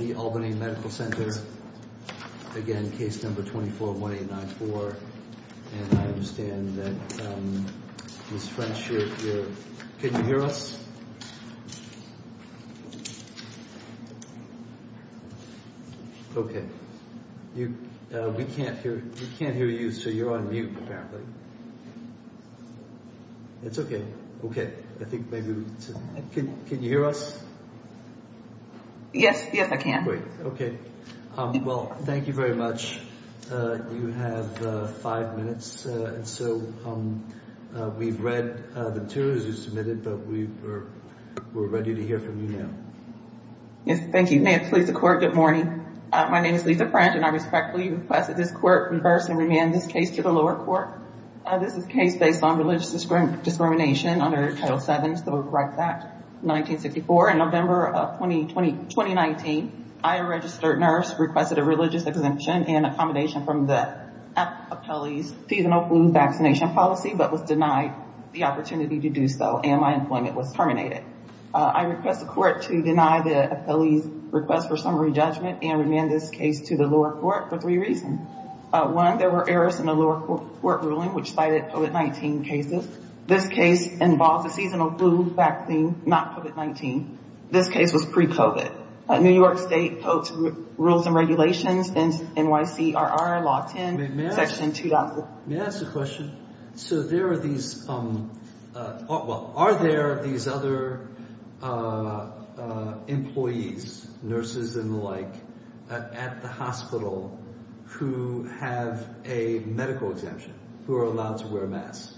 Again, case number 241894, and I understand that Ms. French, you're here. Can you hear us? Okay. We can't hear you, so you're on mute, apparently. It's okay. Okay. I think maybe we can... Can you hear us? Yes. Yes, I can. Great. Okay. Well, thank you very much. You have five minutes, and so we've read the materials you submitted, but we're ready to hear from you now. Yes. Thank you. May it please the Court, good morning. My name is Lisa French, and I respectfully request that this Court reverse and remand this case to the lower court. This is a case based on religious discrimination under Title VII, Civil Rights Act 1964. In November of 2019, I, a registered nurse, requested a religious exemption and accommodation from the appellee's seasonal flu vaccination policy, but was denied the opportunity to do so, and my employment was terminated. I request the Court to deny the appellee's request for summary judgment and remand this case to the lower court for three reasons. One, there were errors in the lower court ruling which cited COVID-19 cases. This case involves a seasonal flu vaccine, not COVID-19. This case was pre-COVID. New York State codes, rules, and regulations, NYCRR, Law 10, Section 2000. May I ask a question? So there are these, well, are there these other employees, nurses and the like, at the hospital who have a medical exemption, who are allowed to wear masks?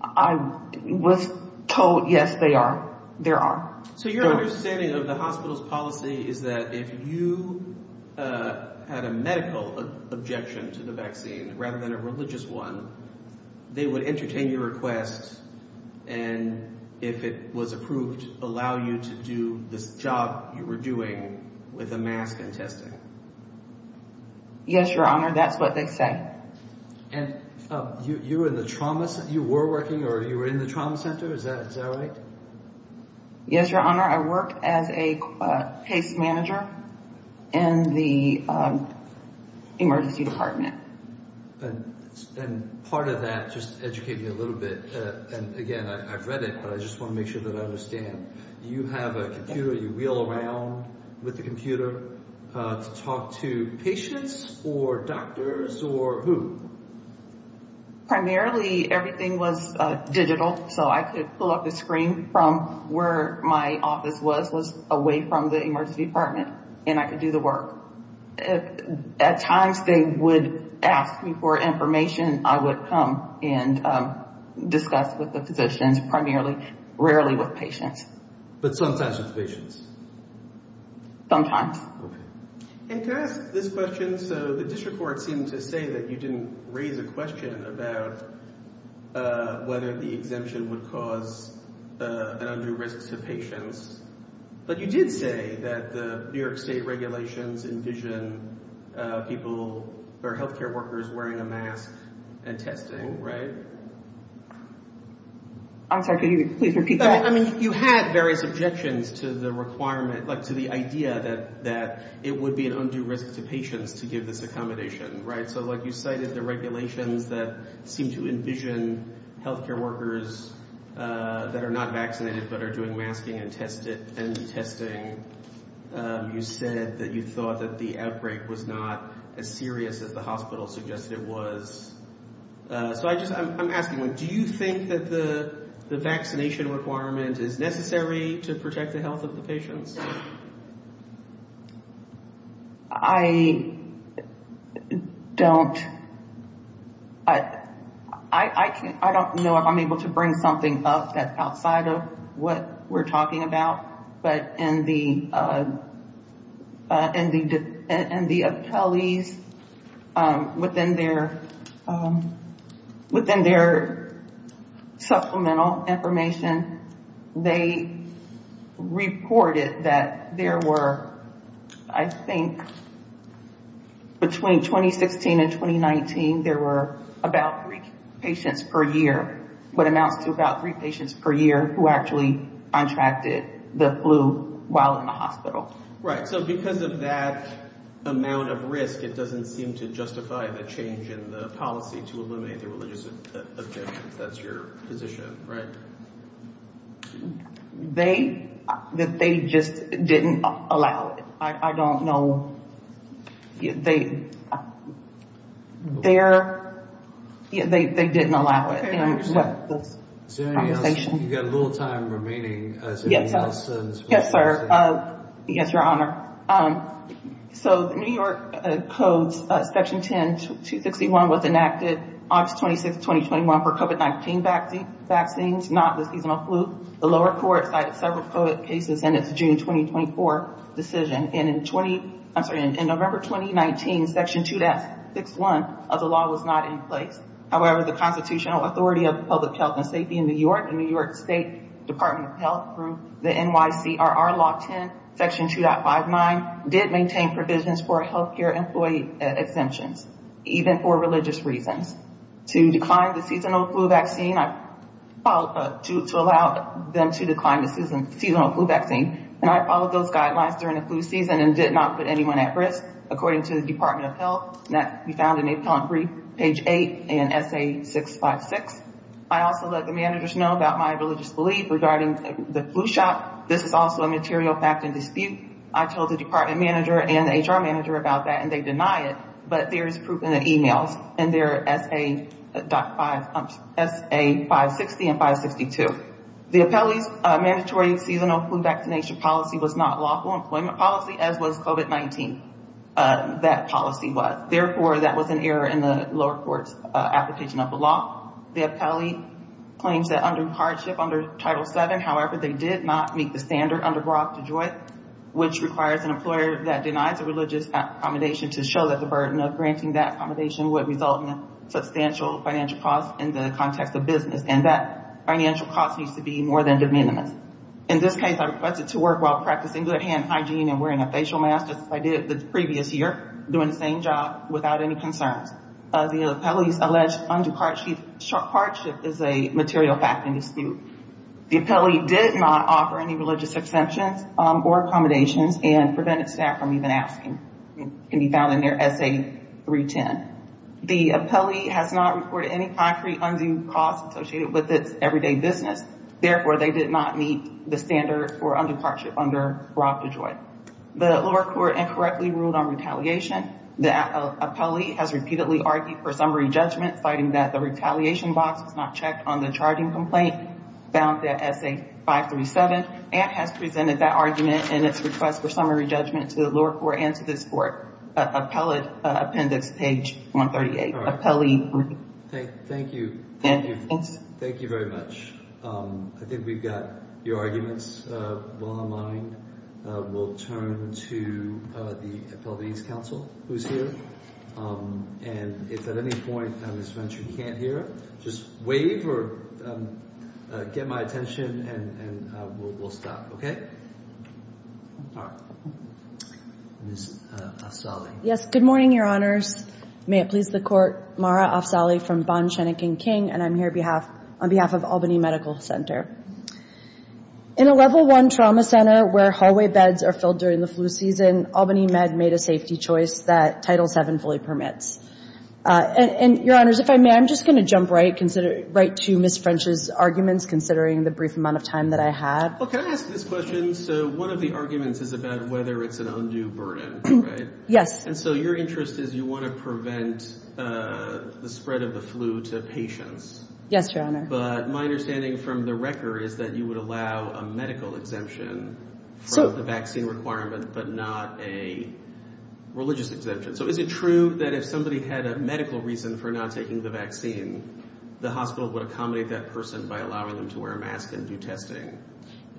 I was told, yes, they are. There are. So your understanding of the hospital's policy is that if you had a medical objection to the vaccine rather than a religious one, they would entertain your request, and if it was approved, allow you to do this job you were doing with a mask and testing? Yes, Your Honor. That's what they say. And you were in the trauma – you were working or you were in the trauma center? Is that right? Yes, Your Honor. I work as a case manager in the emergency department. And part of that, just educate me a little bit, and again, I've read it, but I just want to make sure that I understand. You have a computer, you wheel around with the computer to talk to patients or doctors or who? Primarily everything was digital, so I could pull up the screen from where my office was, was away from the emergency department, and I could do the work. At times they would ask me for information, I would come and discuss with the physicians, primarily, rarely with patients. But sometimes with patients? Sometimes. And to ask this question, so the district court seemed to say that you didn't raise a question about whether the exemption would cause an undue risk to patients, but you did say that the New York State regulations envision people or healthcare workers wearing a mask and testing, right? I'm sorry, could you please repeat that? I mean, you had various objections to the requirement, like to the idea that it would be an undue risk to patients to give this accommodation, right? So like you cited the regulations that seem to envision healthcare workers that are not vaccinated but are doing masking and testing. You said that you thought that the outbreak was not as serious as the hospital suggested it was. So I'm asking, do you think that the vaccination requirement is necessary to protect the health of the patients? I don't know if I'm able to bring something up outside of what we're talking about. But in the appellees, within their supplemental information, they reported that there were, I think, between 2016 and 2019, there were about three patients per year, what amounts to about three patients per year who actually contracted the flu while in the hospital. Right, so because of that amount of risk, it doesn't seem to justify the change in the policy to eliminate the religious exemptions. That's your position, right? They just didn't allow it. I don't know. They didn't allow it. Is there anything else? You've got a little time remaining. Yes, sir. Yes, Your Honor. So the New York Code's Section 10261 was enacted August 26, 2021 for COVID-19 vaccines, not the seasonal flu. The lower court cited several COVID cases in its June 2024 decision. And in November 2019, Section 2.61 of the law was not in place. However, the Constitutional Authority of Public Health and Safety in New York, the New York State Department of Health, through the NYCRR Law 10, Section 2.59, did maintain provisions for health care employee exemptions, even for religious reasons. To decline the seasonal flu vaccine, to allow them to decline the seasonal flu vaccine, and I followed those guidelines during the flu season and did not put anyone at risk, according to the Department of Health. I also let the managers know about my religious belief regarding the flu shot. This is also a material fact and dispute. I told the department manager and the HR manager about that, and they deny it. But there is proof in the emails, in their SA 560 and 562. The appellee's mandatory seasonal flu vaccination policy was not lawful employment policy, as was COVID-19, that policy was. Therefore, that was an error in the lower court's application of the law. The appellee claims that under hardship under Title VII, however, they did not meet the standard under Brock DeJoy, which requires an employer that denies a religious accommodation to show that the burden of granting that accommodation would result in substantial financial costs in the context of business. And that financial cost needs to be more than de minimis. In this case, I requested to work while practicing good hand hygiene and wearing a facial mask, just as I did the previous year, doing the same job without any concerns. The appellee's alleged undue hardship is a material fact and dispute. The appellee did not offer any religious exemptions or accommodations and prevented staff from even asking. It can be found in their SA 310. The appellee has not reported any concrete undue costs associated with its everyday business. Therefore, they did not meet the standard for undue hardship under Brock DeJoy. The lower court incorrectly ruled on retaliation. The appellee has repeatedly argued for summary judgment, citing that the retaliation box was not checked on the charging complaint found in SA 537 and has presented that argument in its request for summary judgment to the lower court and to this court. Appellate appendix, page 138. Thank you. Thank you very much. I think we've got your arguments well in line. We'll turn to the Appellate Ease Council, who's here. And if at any point Ms. Venture can't hear, just wave or get my attention and we'll stop, okay? All right. Ms. Afzali. Yes, good morning, Your Honors. May it please the court. Mara Afzali from Bond, Shenick and King, and I'm here on behalf of Albany Medical Center. In a level one trauma center where hallway beds are filled during the flu season, Albany Med made a safety choice that Title VII fully permits. And, Your Honors, if I may, I'm just going to jump right to Ms. French's arguments, considering the brief amount of time that I have. Well, can I ask this question? So one of the arguments is about whether it's an undue burden, right? Yes. And so your interest is you want to prevent the spread of the flu to patients. Yes, Your Honor. But my understanding from the record is that you would allow a medical exemption for the vaccine requirement but not a religious exemption. So is it true that if somebody had a medical reason for not taking the vaccine, the hospital would accommodate that person by allowing them to wear a mask and do testing?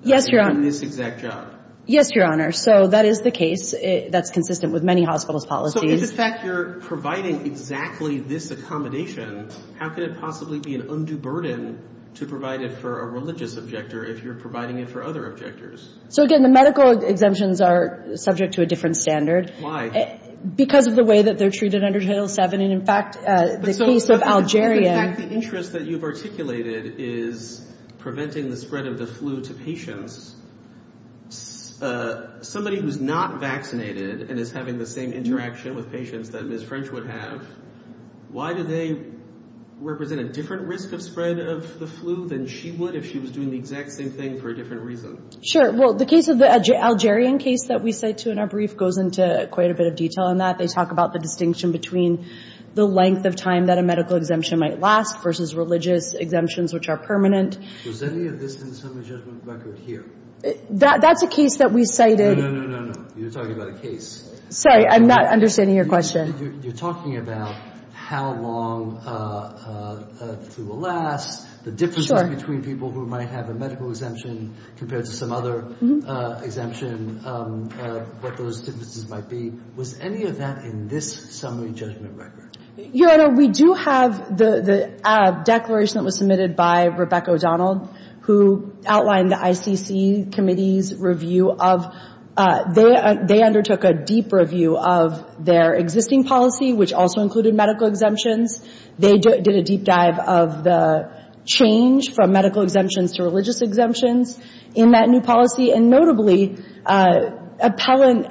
Yes, Your Honor. In this exact job? Yes, Your Honor. So that is the case. That's consistent with many hospitals' policies. So if, in fact, you're providing exactly this accommodation, how could it possibly be an undue burden to provide it for a religious objector if you're providing it for other objectors? So, again, the medical exemptions are subject to a different standard. Why? Because of the way that they're treated under Title VII and, in fact, the case of Algeria. In fact, the interest that you've articulated is preventing the spread of the flu to patients. Somebody who's not vaccinated and is having the same interaction with patients that Ms. French would have, why do they represent a different risk of spread of the flu than she would if she was doing the exact same thing for a different reason? Sure. Well, the case of the Algerian case that we cite to in our brief goes into quite a bit of detail on that. They talk about the distinction between the length of time that a medical exemption might last versus religious exemptions, which are permanent. Was any of this in the summary judgment record here? That's a case that we cited. No, no, no, no, no. You're talking about a case. Sorry, I'm not understanding your question. You're talking about how long the flu will last, the differences between people who might have a medical exemption compared to some other exemption, what those differences might be. Was any of that in this summary judgment record? Your Honor, we do have the declaration that was submitted by Rebecca O'Donnell, who outlined the ICC committee's review of — they undertook a deep review of their existing policy, which also included medical exemptions. They did a deep dive of the change from medical exemptions to religious exemptions in that new policy. And notably, appellant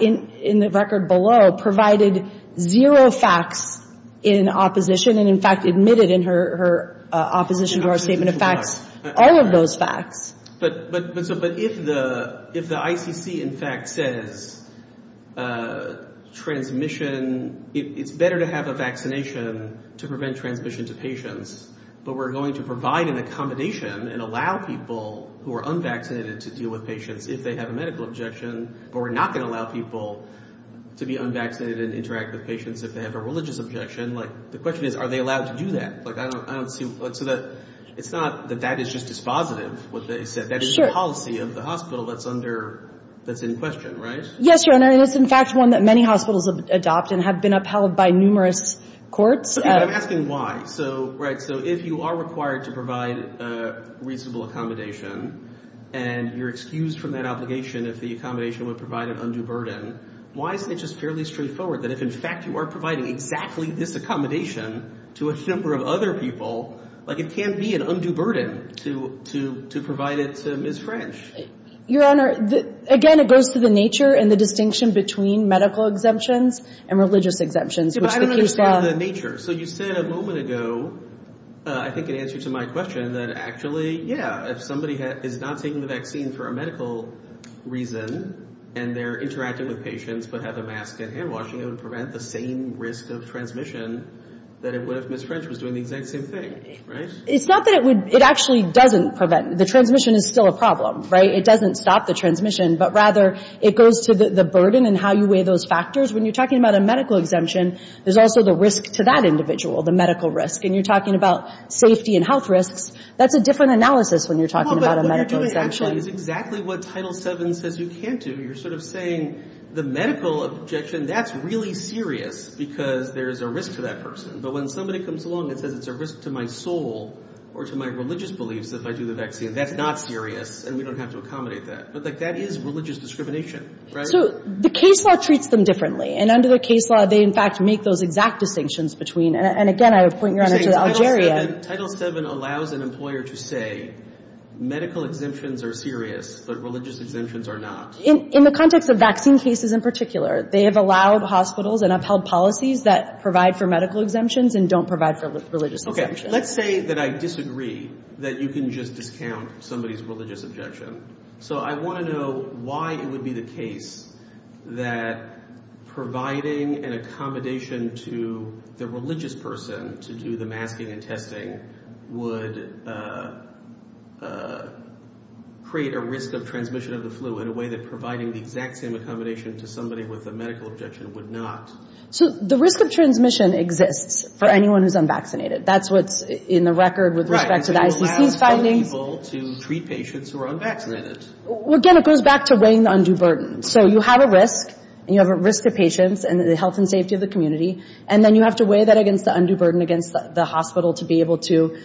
in the record below provided zero facts in opposition and, in fact, admitted in her opposition to our statement of facts all of those facts. But if the ICC, in fact, says transmission — it's better to have a vaccination to prevent transmission to patients, but we're going to provide an accommodation and allow people who are unvaccinated to deal with patients if they have a medical exemption, but we're not going to allow people to be unvaccinated and interact with patients if they have a religious exemption. The question is, are they allowed to do that? Like, I don't see — so that — it's not that that is just dispositive, what they said. That is a policy of the hospital that's under — that's in question, right? Yes, Your Honor. And it's, in fact, one that many hospitals adopt and have been upheld by numerous courts. But I'm asking why. So — right. So if you are required to provide reasonable accommodation and you're excused from that obligation if the accommodation would provide an undue burden, why isn't it just fairly straightforward that if, in fact, you are providing exactly this accommodation to a number of other people, like, it can be an undue burden to provide it to Ms. French? Your Honor, again, it goes to the nature and the distinction between medical exemptions and religious exemptions, which the case law — But I don't understand the nature. So you said a moment ago, I think, in answer to my question, that actually, yeah, if somebody is not taking the vaccine for a medical reason and they're interacting with patients but have a mask and hand washing, it would prevent the same risk of transmission that it would if Ms. French was doing the exact same thing, right? It's not that it would — it actually doesn't prevent — the transmission is still a problem, right? It doesn't stop the transmission, but rather it goes to the burden and how you weigh those factors. In other words, when you're talking about a medical exemption, there's also the risk to that individual, the medical risk. And you're talking about safety and health risks. That's a different analysis when you're talking about a medical exemption. Well, but what you're doing actually is exactly what Title VII says you can't do. You're sort of saying the medical objection, that's really serious because there's a risk to that person. But when somebody comes along and says it's a risk to my soul or to my religious beliefs if I do the vaccine, that's not serious and we don't have to accommodate that. But, like, that is religious discrimination, right? So the case law treats them differently. And under the case law, they, in fact, make those exact distinctions between — and, again, I would point your honor to Algeria. You're saying Title VII allows an employer to say medical exemptions are serious but religious exemptions are not. In the context of vaccine cases in particular, they have allowed hospitals and upheld policies that provide for medical exemptions and don't provide for religious exemptions. Okay. Let's say that I disagree that you can just discount somebody's religious objection. So I want to know why it would be the case that providing an accommodation to the religious person to do the masking and testing would create a risk of transmission of the flu in a way that providing the exact same accommodation to somebody with a medical objection would not. So the risk of transmission exists for anyone who's unvaccinated. That's what's in the record with respect to the ICC's findings. Well, again, it goes back to weighing the undue burden. So you have a risk and you have a risk to patients and the health and safety of the community. And then you have to weigh that against the undue burden against the hospital to be able to,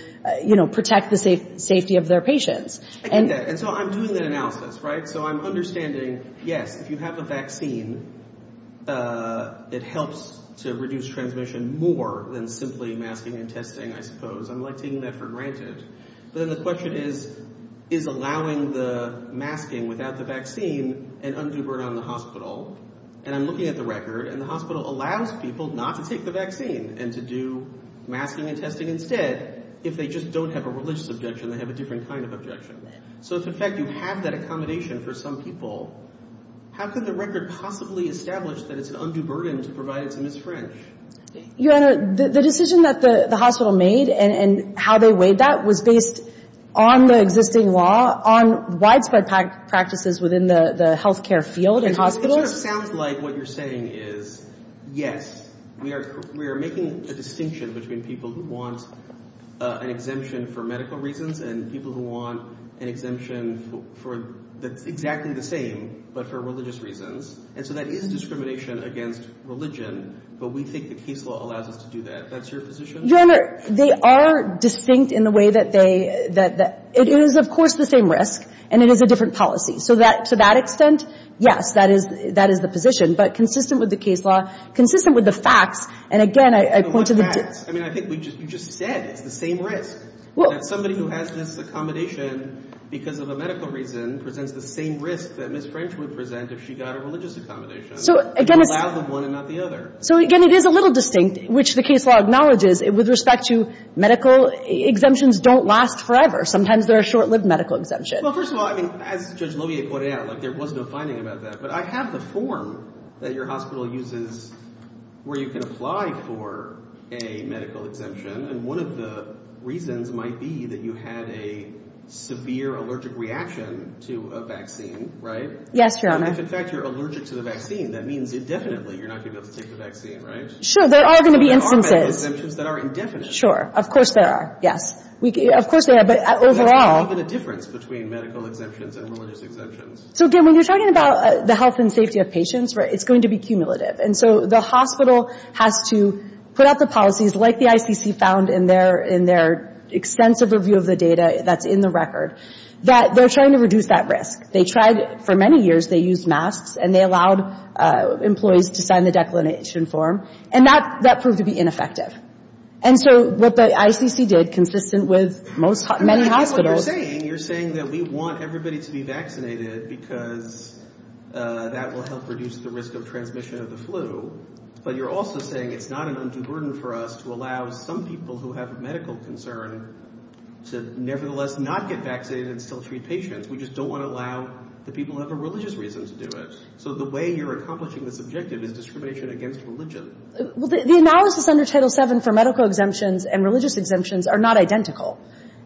you know, protect the safety of their patients. And so I'm doing that analysis, right? So I'm understanding, yes, if you have a vaccine, it helps to reduce transmission more than simply masking and testing, I suppose. I'm taking that for granted. But then the question is, is allowing the masking without the vaccine an undue burden on the hospital? And I'm looking at the record, and the hospital allows people not to take the vaccine and to do masking and testing instead. If they just don't have a religious objection, they have a different kind of objection. So, in fact, you have that accommodation for some people. How could the record possibly establish that it's an undue burden to provide it to Ms. French? Your Honor, the decision that the hospital made and how they weighed that was based on the existing law, on widespread practices within the health care field and hospitals. It sort of sounds like what you're saying is, yes, we are making a distinction between people who want an exemption for medical reasons and people who want an exemption that's exactly the same but for religious reasons. And so that is discrimination against religion, but we think the case law allows us to do that. That's your position? Your Honor, they are distinct in the way that they – it is, of course, the same risk, and it is a different policy. So to that extent, yes, that is the position, but consistent with the case law, consistent with the facts. And, again, I point to the – But what facts? I mean, I think you just said it's the same risk. Well – That somebody who has this accommodation because of a medical reason presents the same risk that Ms. French would present if she got a religious accommodation. So, again, it's – You allow the one and not the other. So, again, it is a little distinct, which the case law acknowledges. With respect to medical, exemptions don't last forever. Sometimes there are short-lived medical exemptions. Well, first of all, I mean, as Judge Lovier pointed out, like, there was no finding about that. But I have the form that your hospital uses where you can apply for a medical exemption, and one of the reasons might be that you had a severe allergic reaction to a vaccine, right? Yes, Your Honor. And if, in fact, you're allergic to the vaccine, that means indefinitely you're not going to be able to take the vaccine, right? Sure. There are going to be instances – There are medical exemptions that are indefinite. Sure. Of course there are. Yes. Of course there are, but overall – There's often a difference between medical exemptions and religious exemptions. So, again, when you're talking about the health and safety of patients, it's going to be cumulative. And so the hospital has to put out the policies, like the ICC found in their extensive review of the data that's in the record, that they're trying to reduce that risk. They tried for many years. They used masks, and they allowed employees to sign the declination form, and that proved to be ineffective. And so what the ICC did, consistent with many hospitals – That will help reduce the risk of transmission of the flu. But you're also saying it's not an undue burden for us to allow some people who have a medical concern to nevertheless not get vaccinated and still treat patients. We just don't want to allow the people who have a religious reason to do it. So the way you're accomplishing this objective is discrimination against religion. Well, the analysis under Title VII for medical exemptions and religious exemptions are not identical.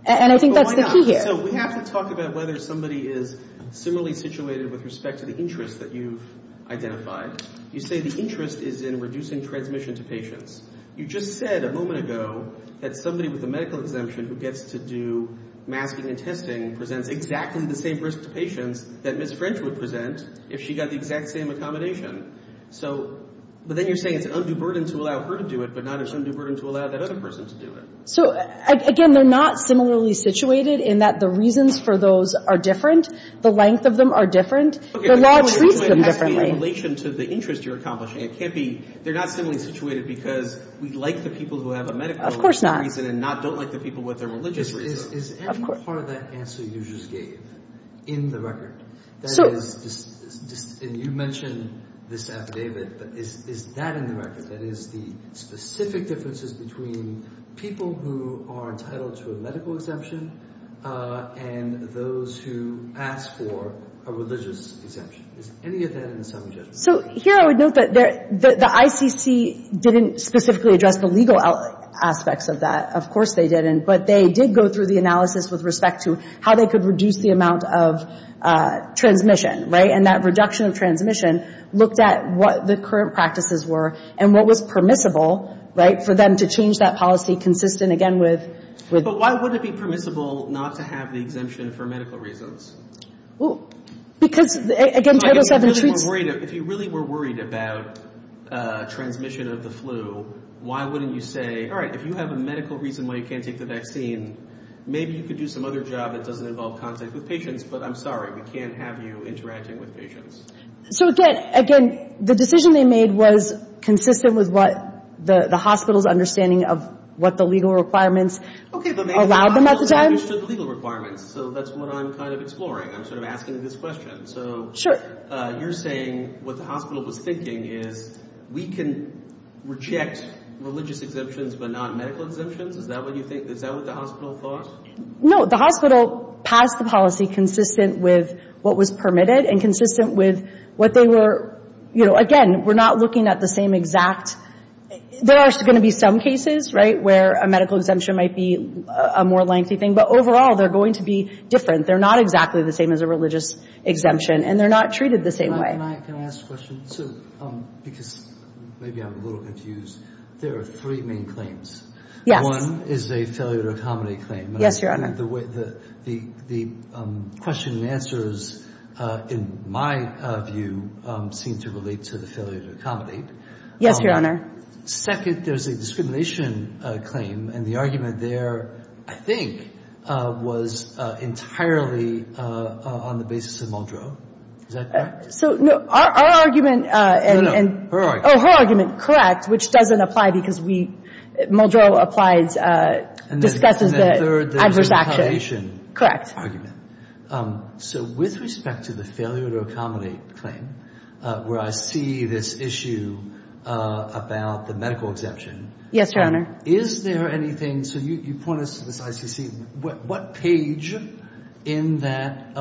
And I think that's the key here. So we have to talk about whether somebody is similarly situated with respect to the interest that you've identified. You say the interest is in reducing transmission to patients. You just said a moment ago that somebody with a medical exemption who gets to do masking and testing presents exactly the same risk to patients that Ms. French would present if she got the exact same accommodation. So – but then you're saying it's an undue burden to allow her to do it, but not an undue burden to allow that other person to do it. So, again, they're not similarly situated in that the reasons for those are different. The length of them are different. The law treats them differently. Okay, but the question I'm asking in relation to the interest you're accomplishing, it can't be – they're not similarly situated because we like the people who have a medical reason – Of course not. – and don't like the people with a religious reason. Is any part of that answer you just gave in the record? That is – and you mentioned this affidavit, but is that in the record? That is the specific differences between people who are entitled to a medical exemption and those who ask for a religious exemption. Is any of that in the summary judgment? So here I would note that the ICC didn't specifically address the legal aspects of that. Of course they didn't. But they did go through the analysis with respect to how they could reduce the amount of transmission, right? And that reduction of transmission looked at what the current practices were and what was permissible, right, for them to change that policy consistent, again, with – But why wouldn't it be permissible not to have the exemption for medical reasons? Because, again, Title VII treats – If you really were worried about transmission of the flu, why wouldn't you say, all right, if you have a medical reason why you can't take the vaccine, maybe you could do some other job that doesn't involve contact with patients, but I'm sorry, we can't have you interacting with patients. So, again, the decision they made was consistent with what the hospital's understanding of what the legal requirements allowed them at the time. Okay, but maybe the hospital understood the legal requirements. So that's what I'm kind of exploring. I'm sort of asking this question. So you're saying what the hospital was thinking is we can reject religious exemptions but not medical exemptions? Is that what you think? Is that what the hospital thought? No. The hospital passed the policy consistent with what was permitted and consistent with what they were – again, we're not looking at the same exact – there are going to be some cases where a medical exemption might be a more lengthy thing, but overall they're going to be different. They're not exactly the same as a religious exemption, and they're not treated the same way. Can I ask a question, too? Because maybe I'm a little confused. There are three main claims. Yes. One is a failure-to-accommodate claim. Yes, Your Honor. The question and answers, in my view, seem to relate to the failure-to-accommodate. Yes, Your Honor. Second, there's a discrimination claim, and the argument there, I think, was entirely on the basis of Muldrow. Is that correct? So, no. Our argument and – No, no. Her argument. Her argument, correct, which doesn't apply because Muldrow discusses the adverse action. So with respect to the failure-to-accommodate claim, where I see this issue about the medical exemption. Yes, Your Honor. Is there anything – so you point us to this ICC. What page in that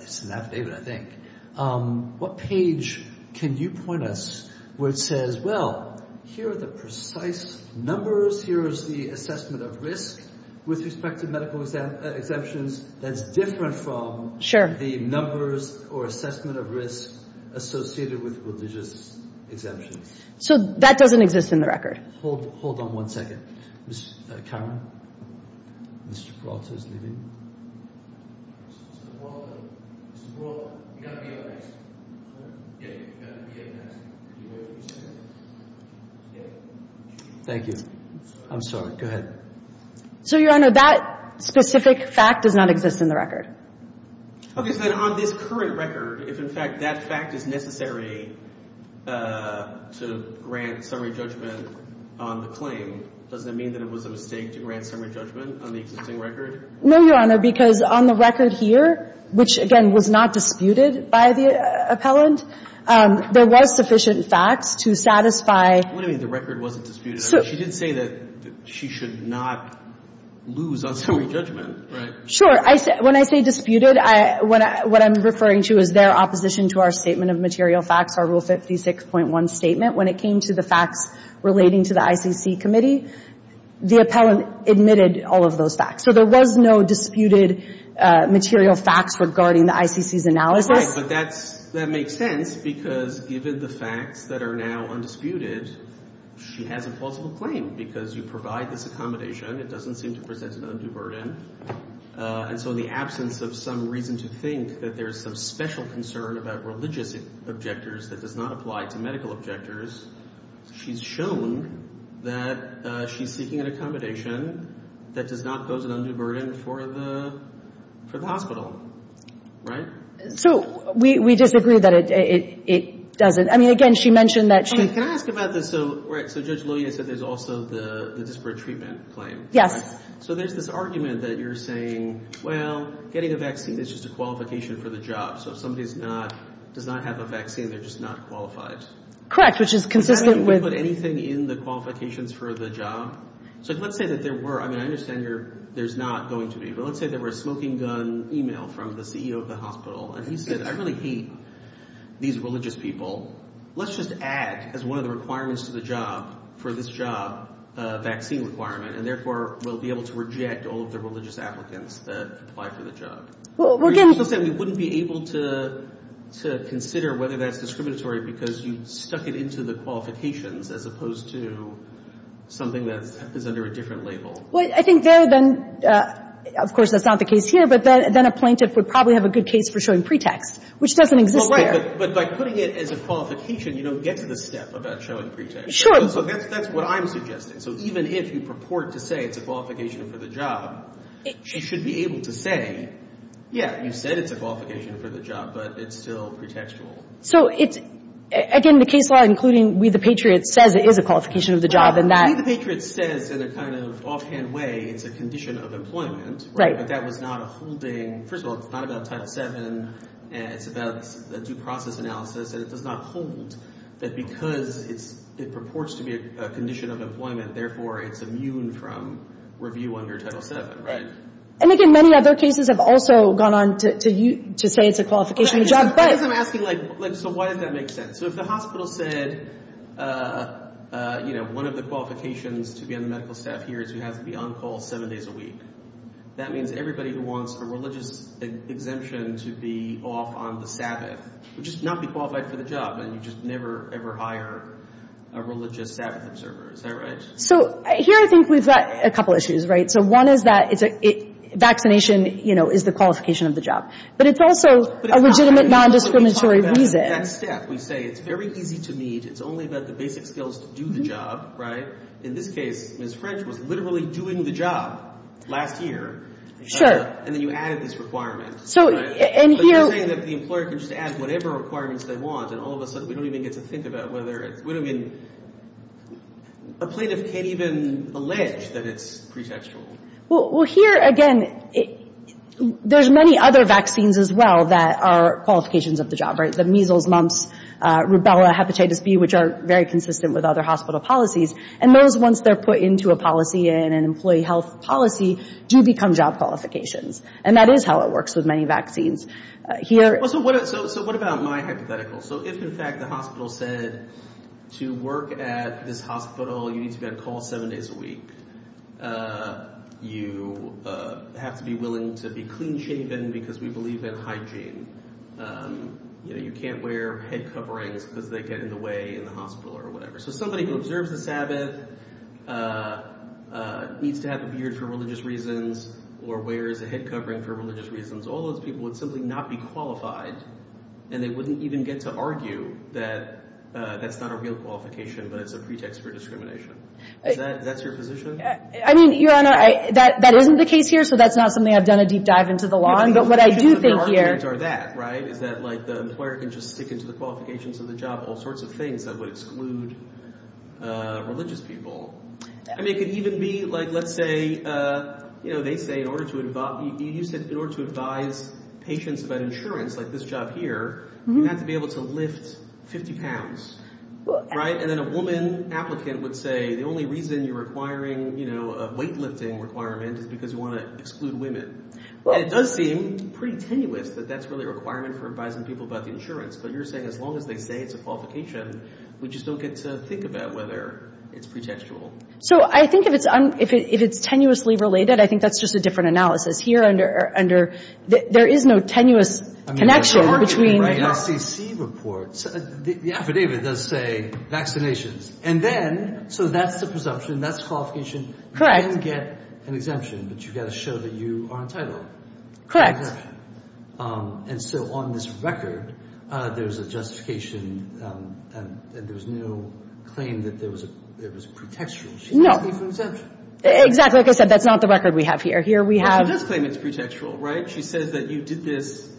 – it's an affidavit, I think. What page can you point us where it says, well, here are the precise numbers. Here is the assessment of risk with respect to medical exemptions. That's different from the numbers or assessment of risk associated with religious exemptions. So that doesn't exist in the record. Hold on one second. Mr. Cameron, Mr. Peralta is leaving. Mr. Peralta, Mr. Peralta, you've got to be on this. Yeah, you've got to be on this. You heard what he said? Yeah. Thank you. I'm sorry. I'm sorry. Go ahead. So, Your Honor, that specific fact does not exist in the record. Okay. So then on this current record, if, in fact, that fact is necessary to grant summary judgment on the claim, doesn't it mean that it was a mistake to grant summary judgment on the existing record? No, Your Honor, because on the record here, which, again, was not disputed by the appellant, there was sufficient facts to satisfy – What do you mean the record wasn't disputed? She did say that she should not lose on summary judgment, right? Sure. When I say disputed, what I'm referring to is their opposition to our statement of material facts, our Rule 56.1 statement. When it came to the facts relating to the ICC committee, the appellant admitted all of those facts. So there was no disputed material facts regarding the ICC's analysis. Right, but that makes sense because given the facts that are now undisputed, she has a plausible claim because you provide this accommodation. It doesn't seem to present an undue burden. And so in the absence of some reason to think that there's some special concern about religious objectors that does not apply to medical objectors, she's shown that she's seeking an accommodation that does not pose an undue burden for the hospital, right? So we disagree that it doesn't. I mean, again, she mentioned that she – Can I ask about this? So Judge Loya said there's also the disparate treatment claim. Yes. So there's this argument that you're saying, well, getting a vaccine is just a qualification for the job. So if somebody does not have a vaccine, they're just not qualified. Correct, which is consistent with – Does that mean we put anything in the qualifications for the job? So let's say that there were – I mean, I understand there's not going to be, but let's say there were a smoking gun email from the CEO of the hospital, and he said, I really hate these religious people. Let's just add as one of the requirements to the job for this job a vaccine requirement, and therefore we'll be able to reject all of the religious applicants that apply for the job. Well, we're going to – But you also said we wouldn't be able to consider whether that's discriminatory because you stuck it into the qualifications as opposed to something that is under a different label. Well, I think there then – of course, that's not the case here, but then a plaintiff would probably have a good case for showing pretext, which doesn't exist there. Well, right. But by putting it as a qualification, you don't get to the step about showing pretext. Sure. So that's what I'm suggesting. So even if you purport to say it's a qualification for the job, she should be able to say, yeah, you said it's a qualification for the job, but it's still pretextual. So it's – again, the case law, including We the Patriots, says it is a qualification of the job. Right. We the Patriots says in a kind of offhand way it's a condition of employment. Right. But that was not a holding – first of all, it's not about Title VII. It's about a due process analysis, and it does not hold that because it purports to be a condition of employment, therefore it's immune from review under Title VII. And, again, many other cases have also gone on to say it's a qualification of the job, but – I guess I'm asking, like, so why does that make sense? So if the hospital said, you know, one of the qualifications to be on the medical staff here is you have to be on call seven days a week, that means everybody who wants a religious exemption to be off on the Sabbath would just not be qualified for the job, and you just never, ever hire a religious Sabbath observer. Is that right? So here I think we've got a couple issues. Right. So one is that it's a – vaccination, you know, is the qualification of the job. But it's also a legitimate nondiscriminatory reason. But it's not what we talk about in that step. We say it's very easy to meet. It's only about the basic skills to do the job. Right. In this case, Ms. French was literally doing the job last year. Sure. And then you added this requirement. So – and here – But you're saying that the employer can just add whatever requirements they want, and all of a sudden we don't even get to think about whether – I mean, a plaintiff can't even allege that it's pretextual. Well, here, again, there's many other vaccines as well that are qualifications of the job, right, the measles, mumps, rubella, hepatitis B, which are very consistent with other hospital policies. And those, once they're put into a policy in an employee health policy, do become job qualifications. And that is how it works with many vaccines. Here – So what about my hypothetical? So if, in fact, the hospital said to work at this hospital you need to be on call seven days a week, you have to be willing to be clean-shaven because we believe in hygiene, you can't wear head coverings because they get in the way in the hospital or whatever. So somebody who observes the Sabbath needs to have a beard for religious reasons or wears a head covering for religious reasons, all those people would simply not be qualified, and they wouldn't even get to argue that that's not a real qualification but it's a pretext for discrimination. Is that your position? I mean, Your Honor, that isn't the case here, so that's not something I've done a deep dive into the law, but what I do think here – But the arguments are that, right, is that, like, the employer can just stick into the qualifications of the job, all sorts of things that would exclude religious people. I mean, it could even be, like, let's say, you know, in order to advise patients about insurance, like this job here, you have to be able to lift 50 pounds, right? And then a woman applicant would say the only reason you're requiring, you know, a weightlifting requirement is because you want to exclude women. And it does seem pretty tenuous that that's really a requirement for advising people about the insurance, but you're saying as long as they say it's a qualification, we just don't get to think about whether it's pretextual. So I think if it's tenuously related, I think that's just a different analysis. Here, under – there is no tenuous connection between – I mean, according to the SEC report, the affidavit does say vaccinations. And then – so that's the presumption. That's the qualification. Correct. You can get an exemption, but you've got to show that you are entitled. Correct. And so on this record, there's a justification that there was no claim that it was pretextual. No. She's asking for an exemption. Exactly. Like I said, that's not the record we have here. Here we have – Well, she does claim it's pretextual, right? She says that you did this –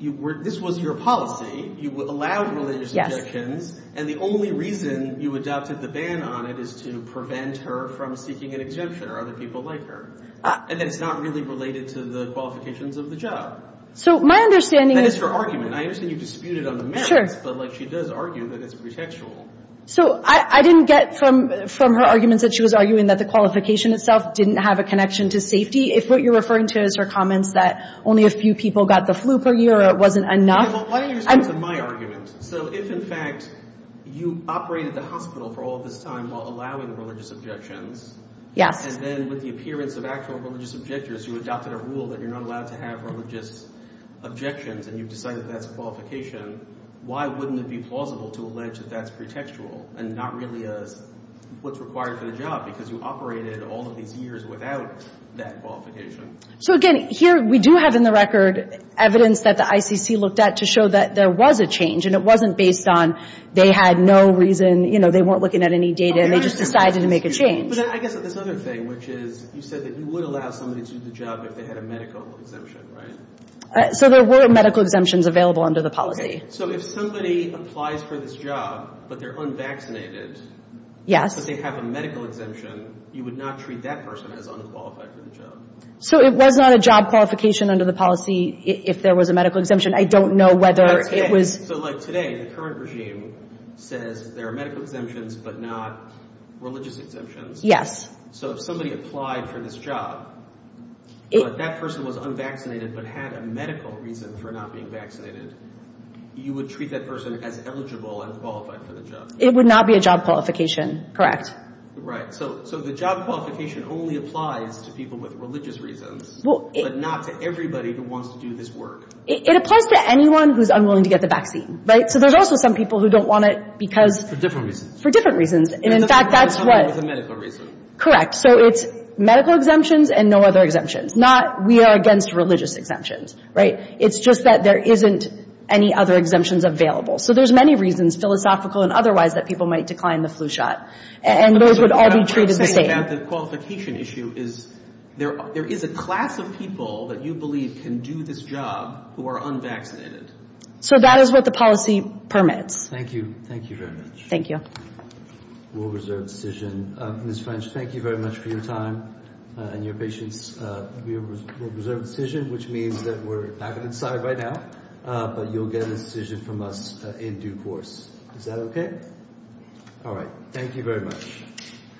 this was your policy. You allowed religious objections. And the only reason you adopted the ban on it is to prevent her from seeking an exemption or other people like her. And it's not really related to the qualifications of the job. So my understanding is – That is her argument. I understand you disputed on the merits. Sure. But, like, she does argue that it's pretextual. So I didn't get from her arguments that she was arguing that the qualification itself didn't have a connection to safety. If what you're referring to is her comments that only a few people got the flu per year or it wasn't enough – Well, why don't you respond to my argument? So if, in fact, you operated the hospital for all this time while allowing religious objections – Yes. And then with the appearance of actual religious objectors, you adopted a rule that you're not allowed to have religious objections and you've decided that's a qualification, why wouldn't it be plausible to allege that that's pretextual and not really as what's required for the job because you operated all of these years without that qualification? So, again, here we do have in the record evidence that the ICC looked at to show that there was a change and it wasn't based on they had no reason – you know, they weren't looking at any data and they just decided to make a change. But I guess there's another thing, which is you said that you would allow somebody to do the job if they had a medical exemption, right? So there were medical exemptions available under the policy. Okay. So if somebody applies for this job but they're unvaccinated – Yes. Unless they have a medical exemption, you would not treat that person as unqualified for the job. So it was not a job qualification under the policy if there was a medical exemption. I don't know whether it was – Okay. So, like, today, the current regime says there are medical exemptions but not religious exemptions. Yes. So if somebody applied for this job, but that person was unvaccinated but had a medical reason for not being vaccinated, you would treat that person as eligible and qualified for the job. It would not be a job qualification. Correct. So the job qualification only applies to people with religious reasons but not to everybody who wants to do this work. It applies to anyone who's unwilling to get the vaccine, right? So there's also some people who don't want it because – For different reasons. For different reasons. And, in fact, that's what – Somebody with a medical reason. Correct. So it's medical exemptions and no other exemptions, not we are against religious exemptions, right? It's just that there isn't any other exemptions available. So there's many reasons, philosophical and otherwise, that people might decline the flu shot. And those would all be treated the same. The qualification issue is there is a class of people that you believe can do this job who are unvaccinated. So that is what the policy permits. Thank you. Thank you very much. Thank you. We'll reserve the decision. Ms. French, thank you very much for your time and your patience. We will reserve the decision, which means that we're back on its side right now. But you'll get a decision from us in due course. Is that okay? All right. Thank you very much.